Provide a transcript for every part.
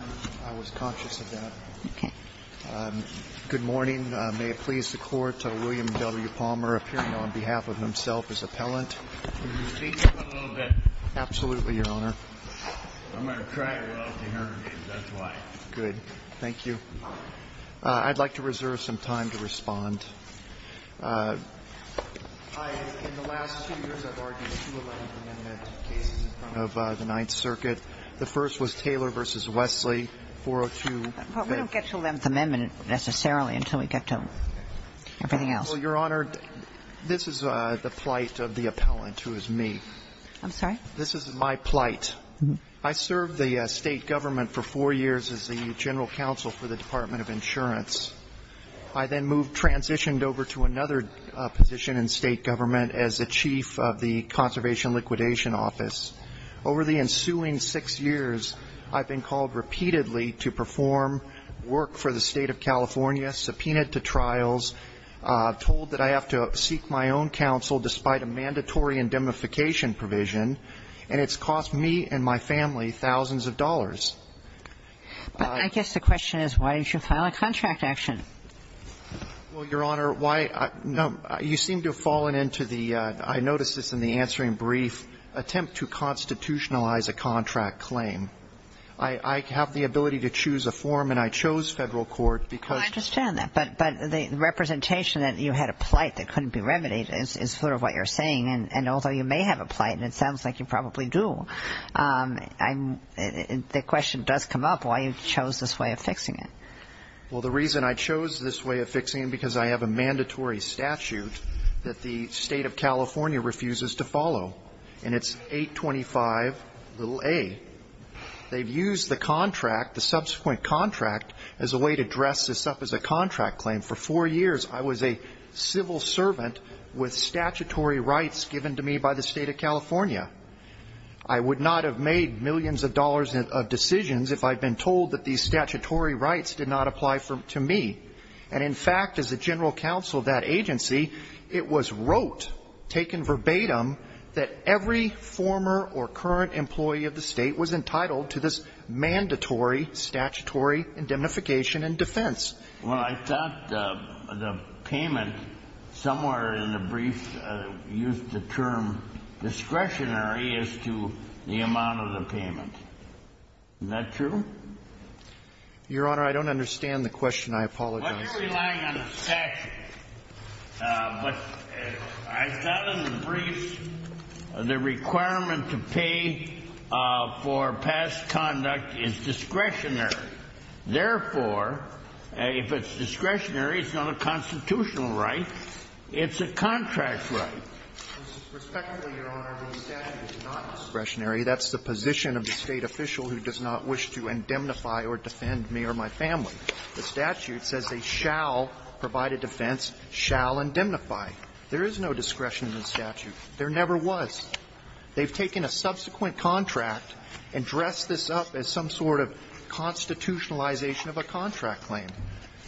I was conscious of that. Okay. Good morning. May it please the court, William W. Palmer appearing on behalf of himself as appellant. Can you speak? A little bit. Absolutely, Your Honor. I'm going to try a little to hear him. That's why. Good. Thank you. I'd like to reserve some time to respond. In the last two years, I've argued two Eleventh Amendment cases in front of the Ninth Circuit. The first was Taylor v. Wesley, 402. But we don't get to Eleventh Amendment necessarily until we get to everything else. Well, Your Honor, this is the plight of the appellant, who is me. I'm sorry? This is my plight. I served the State Government for four years as the General Counsel for the Department of Insurance. I then moved, transitioned over to another position in State Government as the Chief of the Conservation Liquidation Office. Over the ensuing six years, I've been called repeatedly to perform work for the State of California, subpoenaed to trials, told that I have to seek my own counsel despite a mandatory indemnification provision, and it's cost me and my family thousands of dollars. I guess the question is why did you file a contract action? Well, Your Honor, why you seem to have fallen into the, I noticed this in the answering brief, attempt to constitutionalize a contract claim. I have the ability to choose a form, and I chose Federal court because... Well, I understand that. But the representation that you had a plight that couldn't be remedied is sort of what you're saying. And although you may have a plight, and it sounds like you probably do, the question does come up why you chose this way of fixing it. Well, the reason I chose this way of fixing it because I have a mandatory statute that the State of California refuses to follow, and it's 825a. They've used the contract, the subsequent contract, as a way to dress this up as a contract claim. For four years, I was a civil servant with statutory rights given to me by the State of California. I would not have made millions of dollars of decisions if I'd been told that these statutory rights did not apply to me. And, in fact, as a general counsel of that agency, it was wrote, taken verbatim, that every former or current employee of the State was entitled to this mandatory statutory indemnification and defense. Well, I thought the payment somewhere in the brief used the term discretionary as to the amount of the payment. Is that true? Your Honor, I don't understand the question. I apologize. Well, you're relying on a statute. But I thought in the brief the requirement to pay for past conduct is discretionary. Therefore, if it's discretionary, it's not a constitutional right. It's a contract right. Respectfully, Your Honor, the statute is not discretionary. That's the position of the State official who does not wish to indemnify or defend me or my family. The statute says they shall provide a defense, shall indemnify. There is no discretion in the statute. There never was. They've taken a subsequent contract and dressed this up as some sort of constitutionalization of a contract claim.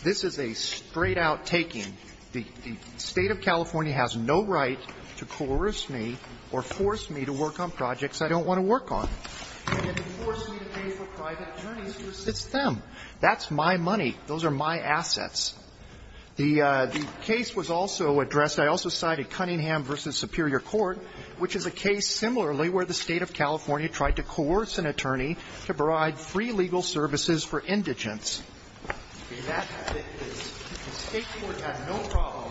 This is a straight-out taking. The State of California has no right to coerce me or force me to work on projects I don't want to work on. They can force me to pay for private attorneys who assist them. That's my money. Those are my assets. The case was also addressed, I also cited Cunningham v. Superior Court, which is a case similarly where the State of California tried to coerce an attorney to provide free legal services for indigents. The State court has no problem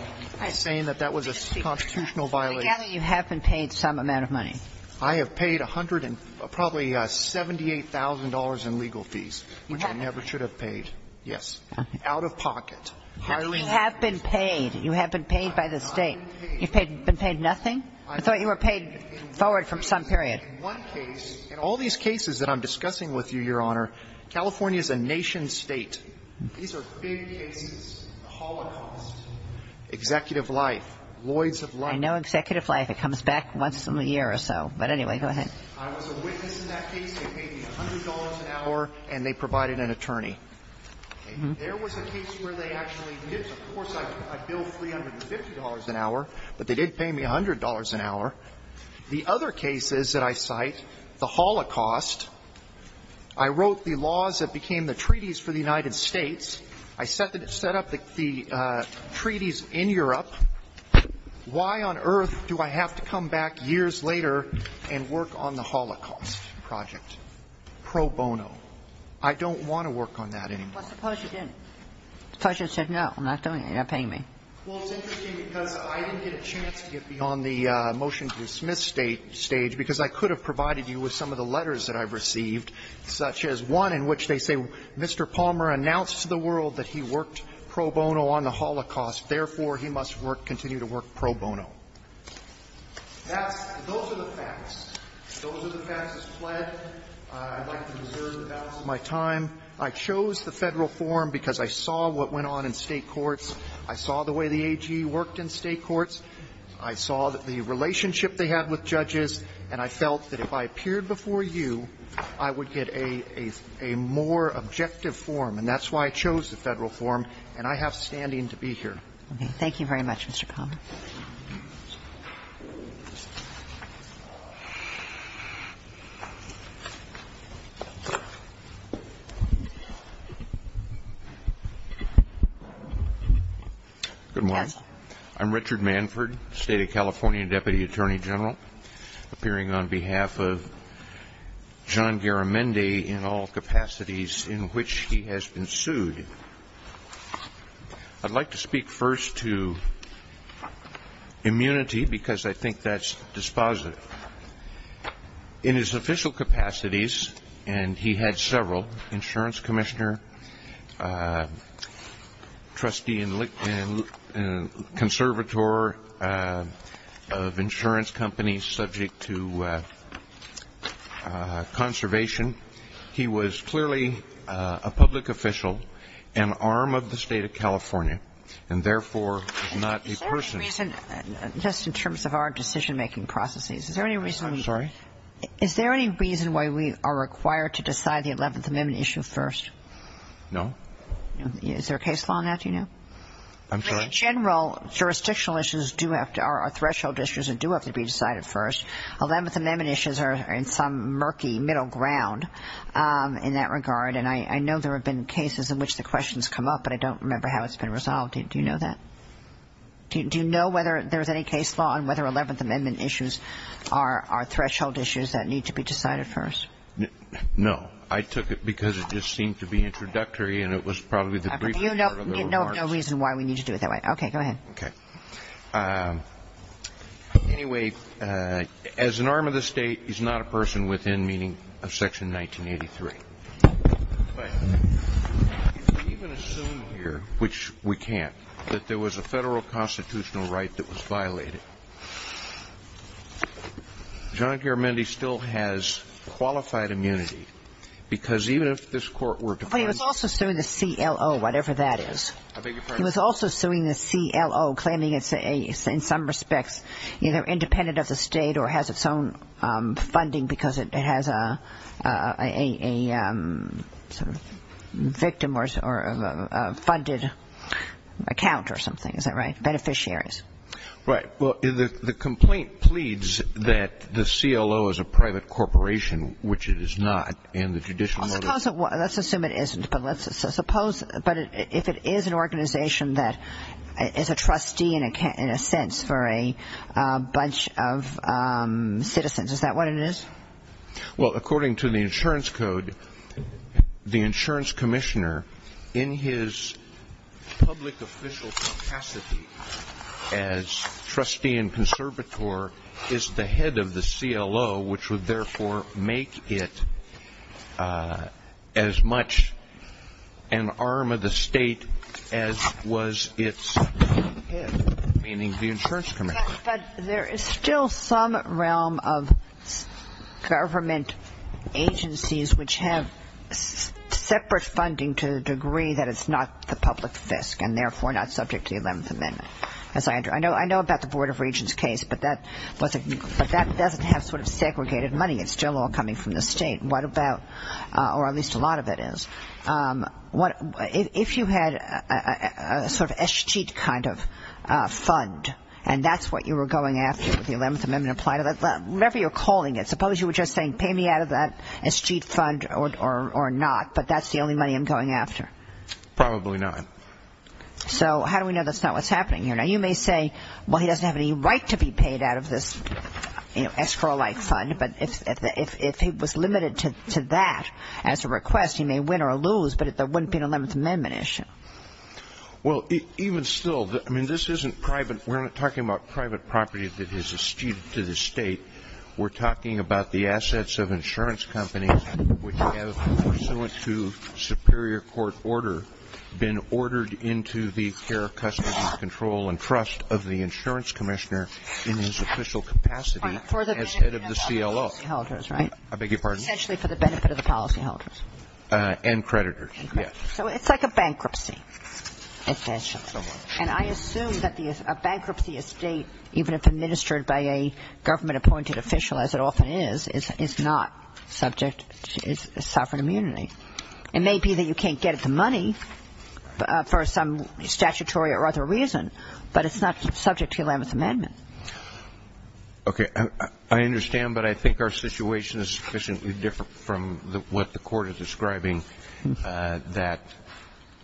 saying that that was a constitutional violation. I gather you have been paid some amount of money. I have paid probably $78,000 in legal fees, which I never should have paid. Yes. Out of pocket. You have been paid. You have been paid by the State. I've been paid. You've been paid nothing? I thought you were paid forward from some period. In one case, in all these cases that I'm discussing with you, Your Honor, California is a nation state. These are big cases. The Holocaust. Executive life. Lloyds of life. I know executive life. It comes back once in a year or so. But anyway, go ahead. I was a witness in that case. They paid me $100 an hour, and they provided an attorney. There was a case where they actually did. Of course, I bill $350 an hour, but they did pay me $100 an hour. The other cases that I cite, the Holocaust, I wrote the laws that became the treaties for the United States. I set up the treaties in Europe. Why on earth do I have to come back years later and work on the Holocaust project pro bono? I don't want to work on that anymore. Well, suppose you didn't. Suppose you said, no, I'm not doing it. They're not paying me. Well, it's interesting, because I didn't get a chance to get beyond the motion to dismiss stage, because I could have provided you with some of the letters that I've received, such as one in which they say, Mr. Palmer announced to the world that he worked pro bono on the Holocaust. Therefore, he must work, continue to work pro bono. That's the, those are the facts. Those are the facts as pled. I'd like to reserve the balance of my time. I chose the Federal form because I saw what went on in State courts. I saw the way the AG worked in State courts. I saw the relationship they had with judges. And I felt that if I appeared before you, I would get a more objective form. And that's why I chose the Federal form. And I have standing to be here. Okay. Thank you very much, Mr. Palmer. Good morning. I'm Richard Manford, State of California Deputy Attorney General, appearing on behalf of John Garamendi in all capacities in which he has been sued. I'd like to speak first to immunity because I think that's dispositive. In his official capacities, and he had several, insurance commissioner, trustee and conservator of insurance companies subject to conservation. He was clearly a public official, an arm of the State of California, and therefore not a person. Is there any reason, just in terms of our decision-making processes, is there any reason. I'm sorry. Is there any reason why we are required to decide the 11th Amendment issue first? No. Is there a case law on that do you know? I'm sorry. In general, jurisdictional issues do have to, are threshold issues, and do have to be decided first. 11th Amendment issues are in some murky middle ground in that regard, and I know there have been cases in which the questions come up, but I don't remember how it's been resolved. Do you know that? Do you know whether there's any case law on whether 11th Amendment issues are threshold issues that need to be decided first? No. I took it because it just seemed to be introductory, and it was probably the briefing part of the remarks. You have no reason why we need to do it that way. Okay. Go ahead. Okay. Anyway, as an arm of the State, he's not a person within meaning of Section 1983. Go ahead. If we even assume here, which we can't, that there was a federal constitutional right that was violated, John Garamendi still has qualified immunity, because even if this Court were to find him. But he was also suing the CLO, whatever that is. I beg your pardon? He was also suing the CLO, claiming it's, in some respects, either independent of the State or has its own funding because it has a sort of victim or a funded account or something. Is that right? Beneficiaries. Right. Well, the complaint pleads that the CLO is a private corporation, which it is not, and the judicial motive. Let's assume it isn't. But if it is an organization that is a trustee, in a sense, for a bunch of citizens, is that what it is? Well, according to the insurance code, the insurance commissioner in his public official capacity as trustee and conservator is the head of the CLO, which would therefore make it as much an arm of the State as was its meaning the insurance commissioner. But there is still some realm of government agencies which have separate funding to the degree that it's not the public fisc and therefore not subject to the Eleventh Amendment. I know about the Board of Regents case, but that doesn't have sort of segregated money. It's still all coming from the State, or at least a lot of it is. If you had a sort of escheat kind of fund, and that's what you were going after with the Eleventh Amendment, whatever you're calling it, suppose you were just saying pay me out of that escheat fund or not, but that's the only money I'm going after. Probably not. So how do we know that's not what's happening here? Now, you may say, well, he doesn't have any right to be paid out of this escrow-like fund, but if he was limited to that as a request, he may win or lose, but there wouldn't be an Eleventh Amendment issue. Well, even still, I mean, this isn't private. We're not talking about private property that is eschewed to the State. We're talking about the assets of insurance companies which have, pursuant to superior court order, been ordered into the care, custody, control, and trust of the insurance commissioner in his official capacity as head of the CLO. I beg your pardon? Essentially for the benefit of the policyholders. And creditors, yes. So it's like a bankruptcy, essentially. And I assume that a bankruptcy estate, even if administered by a government-appointed official, as it often is, is not subject to sovereign immunity. It may be that you can't get the money for some statutory or other reason, but it's not subject to Eleventh Amendment. Okay. I understand, but I think our situation is sufficiently different from what the Court is describing, that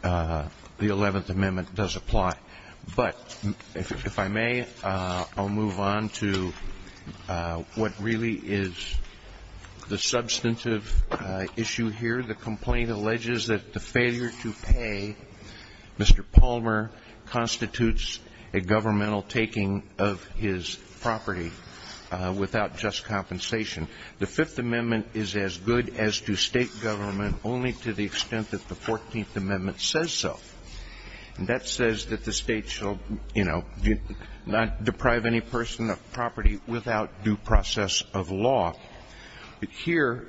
the Eleventh Amendment does apply. But if I may, I'll move on to what really is the substantive issue here, and that is that under the Fifth Amendment, the complaint alleges that the failure to pay Mr. Palmer constitutes a governmental taking of his property without just compensation. The Fifth Amendment is as good as to State government only to the extent that the Fourteenth Amendment says so. And that says that the State shall, you know, not deprive any person of property without due process of law. Here,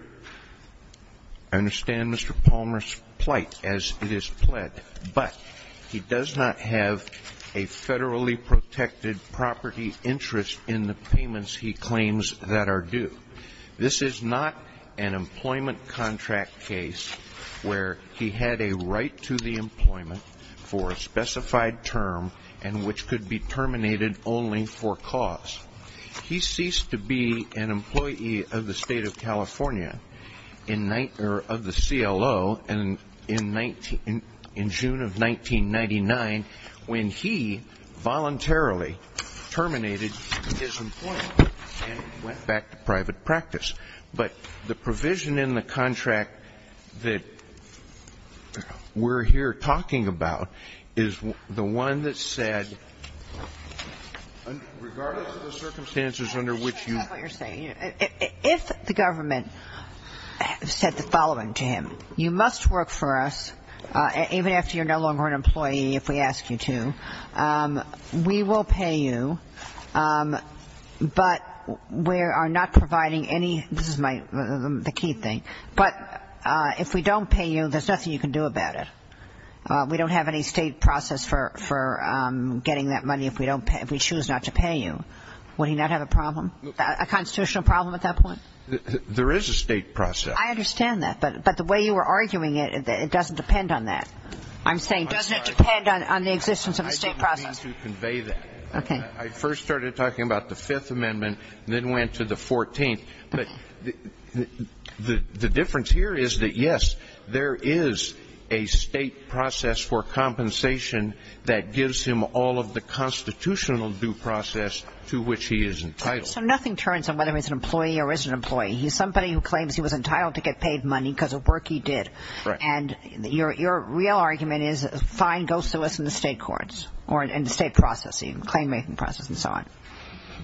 I understand Mr. Palmer's plight as it is pled, but he does not have a federally protected property interest in the payments he claims that are due. This is not an employment contract case where he had a right to the employment for a specified term and which could be terminated only for cause. He ceased to be an employee of the State of California, or of the CLO in June of 1999 when he voluntarily terminated his employment and went back to private practice. But the provision in the contract that we're here talking about is the one that said, regardless of the circumstances under which you. If the government said the following to him, you must work for us even after you're no longer an employee if we ask you to. We will pay you, but we are not providing any. This is my key thing. But if we don't pay you, there's nothing you can do about it. We don't have any State process for getting that money if we choose not to pay you. Would he not have a problem, a constitutional problem at that point? There is a State process. I understand that, but the way you were arguing it, it doesn't depend on that. I'm saying it doesn't depend on the existence of a State process. I didn't mean to convey that. Okay. I first started talking about the Fifth Amendment and then went to the 14th. But the difference here is that, yes, there is a State process for compensation that gives him all of the constitutional due process to which he is entitled. So nothing turns on whether he's an employee or isn't an employee. He's somebody who claims he was entitled to get paid money because of work he did. Right. And your real argument is, fine, go solicit in the State courts or in the State process even, claim-making process and so on.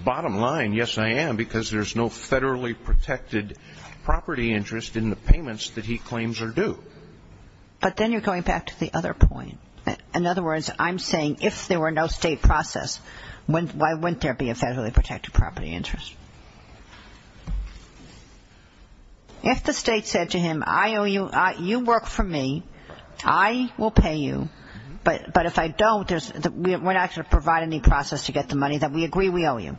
Bottom line, yes, I am, because there's no federally protected property interest in the payments that he claims are due. But then you're going back to the other point. In other words, I'm saying if there were no State process, why wouldn't there be a federally protected property interest? If the State said to him, I owe you, you work for me, I will pay you, but if I don't, we're not going to provide any process to get the money that we agree we owe you.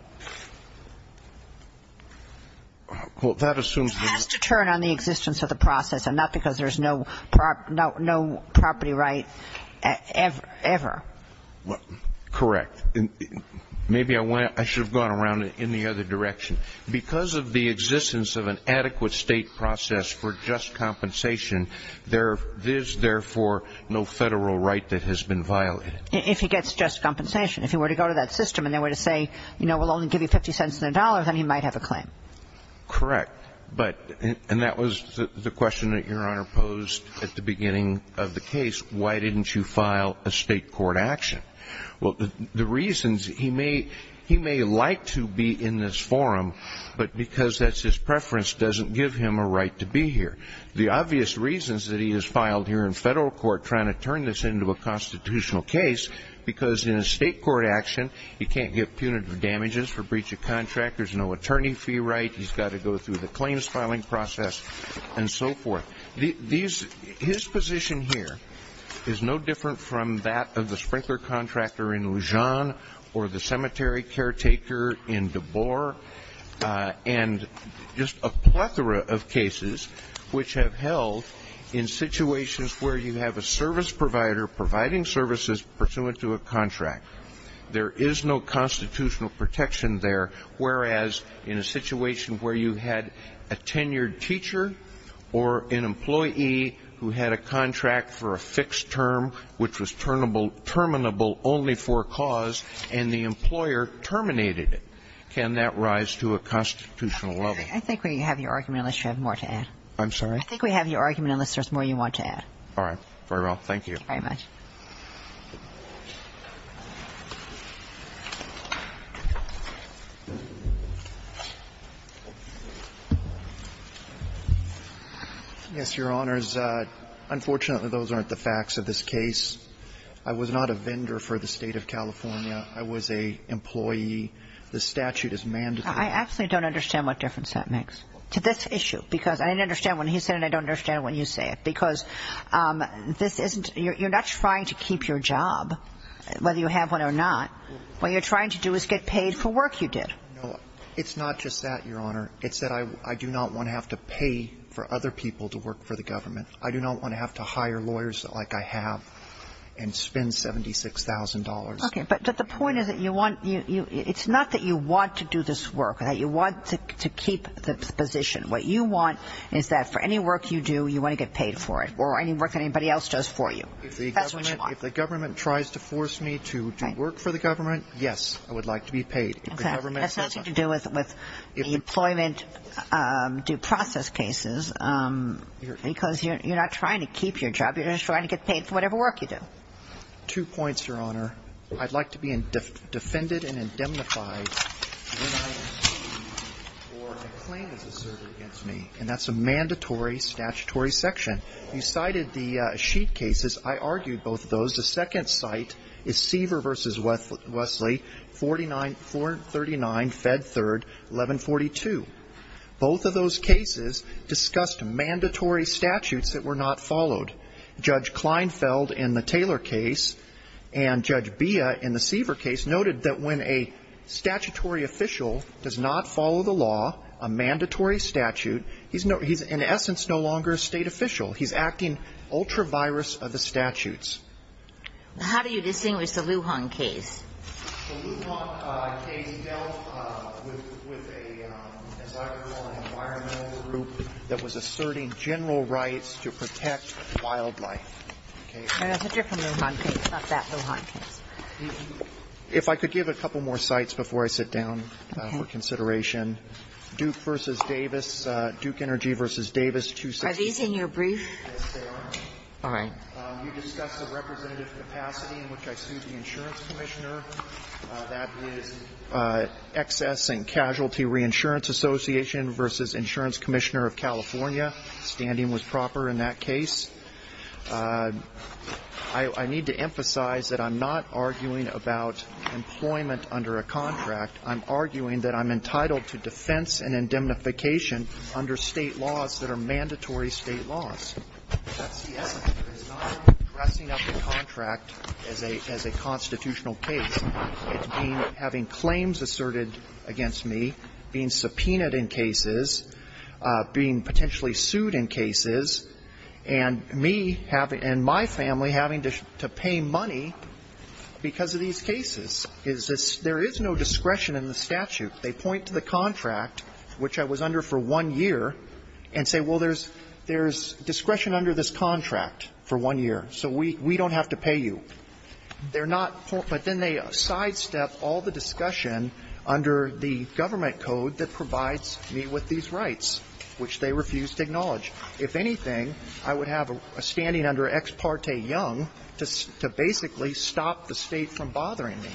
Well, that assumes that you're... It has to turn on the existence of the process and not because there's no property right ever. Correct. Maybe I should have gone around in the other direction. Because of the existence of an adequate State process for just compensation, there is, therefore, no federal right that has been violated. If he gets just compensation. If he were to go to that system and they were to say, you know, we'll only give you 50 cents and a dollar, then he might have a claim. Correct. And that was the question that Your Honor posed at the beginning of the case. Why didn't you file a State court action? Well, the reasons, he may like to be in this forum, but because that's his preference doesn't give him a right to be here. The obvious reasons that he is filed here in federal court trying to turn this into a constitutional case, because in a State court action, he can't get punitive damages for breach of contract, there's no attorney fee right, he's got to go through the claims filing process, and so forth. His position here is no different from that of the sprinkler contractor in Lujan or the cemetery caretaker in Deborah, and just a plethora of cases which have held in situations where you have a service provider providing services pursuant to a contract. There is no constitutional protection there, whereas in a situation where you had a tenured teacher or an employee who had a contract for a fixed term which was terminable only for cause and the employer terminated it, can that rise to a constitutional level? I think we have your argument unless you have more to add. I'm sorry? I think we have your argument unless there's more you want to add. All right. Very well. Thank you. Thank you very much. Yes, Your Honors. Unfortunately, those aren't the facts of this case. I was not a vendor for the State of California. I was an employee. The statute is mandatory. I actually don't understand what difference that makes to this issue, because I didn't understand when he said it and I don't understand when you say it, because this isn't you're not trying to keep your job, whether you have one or not. What you're trying to do is get paid for work you did. No, it's not just that, Your Honor. It's that I do not want to have to pay for other people to work for the government. I do not want to have to hire lawyers like I have and spend $76,000. Okay. But the point is that you want to do this work, that you want to keep the position. What you want is that for any work you do, you want to get paid for it or any work that anybody else does for you. That's what you want. If the government tries to force me to work for the government, yes, I would like to be paid. That has nothing to do with the employment due process cases, because you're not trying to keep your job. You're just trying to get paid for whatever work you do. Two points, Your Honor. I'd like to be defended and indemnified for a claim that's asserted against me, and that's a mandatory statutory section. You cited the Sheet cases. I argued both of those. The second site is Seaver v. Wesley, 439 Fed 3, 1142. Both of those cases discussed mandatory statutes that were not followed. Judge Kleinfeld in the Taylor case and Judge Bea in the Seaver case noted that when a statutory official does not follow the law, a mandatory statute, he's in essence no longer a state official. He's acting ultra-virus of the statutes. How do you distinguish the Lujan case? The Lujan case dealt with a, as I recall, an environmental group that was asserting general rights to protect wildlife. It's a different Lujan case, not that Lujan case. If I could give a couple more sites before I sit down for consideration. Duke v. Davis, Duke Energy v. Davis, 266. Are these in your brief? Yes, they are. All right. You discussed the representative capacity in which I sued the insurance commissioner. That is Excess and Casualty Reinsurance Association v. Insurance Commissioner of California. Standing was proper in that case. I need to emphasize that I'm not arguing about employment under a contract. I'm arguing that I'm entitled to defense and indemnification under State laws that are mandatory State laws. That's the essence of it. It's not about dressing up a contract as a constitutional case. It's being – having claims asserted against me, being subpoenaed in cases, being potentially sued in cases, and me and my family having to pay money because of these cases. Is this – there is no discretion in the statute. They point to the contract, which I was under for one year, and say, well, there's – there's discretion under this contract for one year, so we don't have to pay you. They're not – but then they sidestep all the discussion under the government code that provides me with these rights, which they refuse to acknowledge. If anything, I would have a standing under Ex parte Young to basically stop the State from bothering me.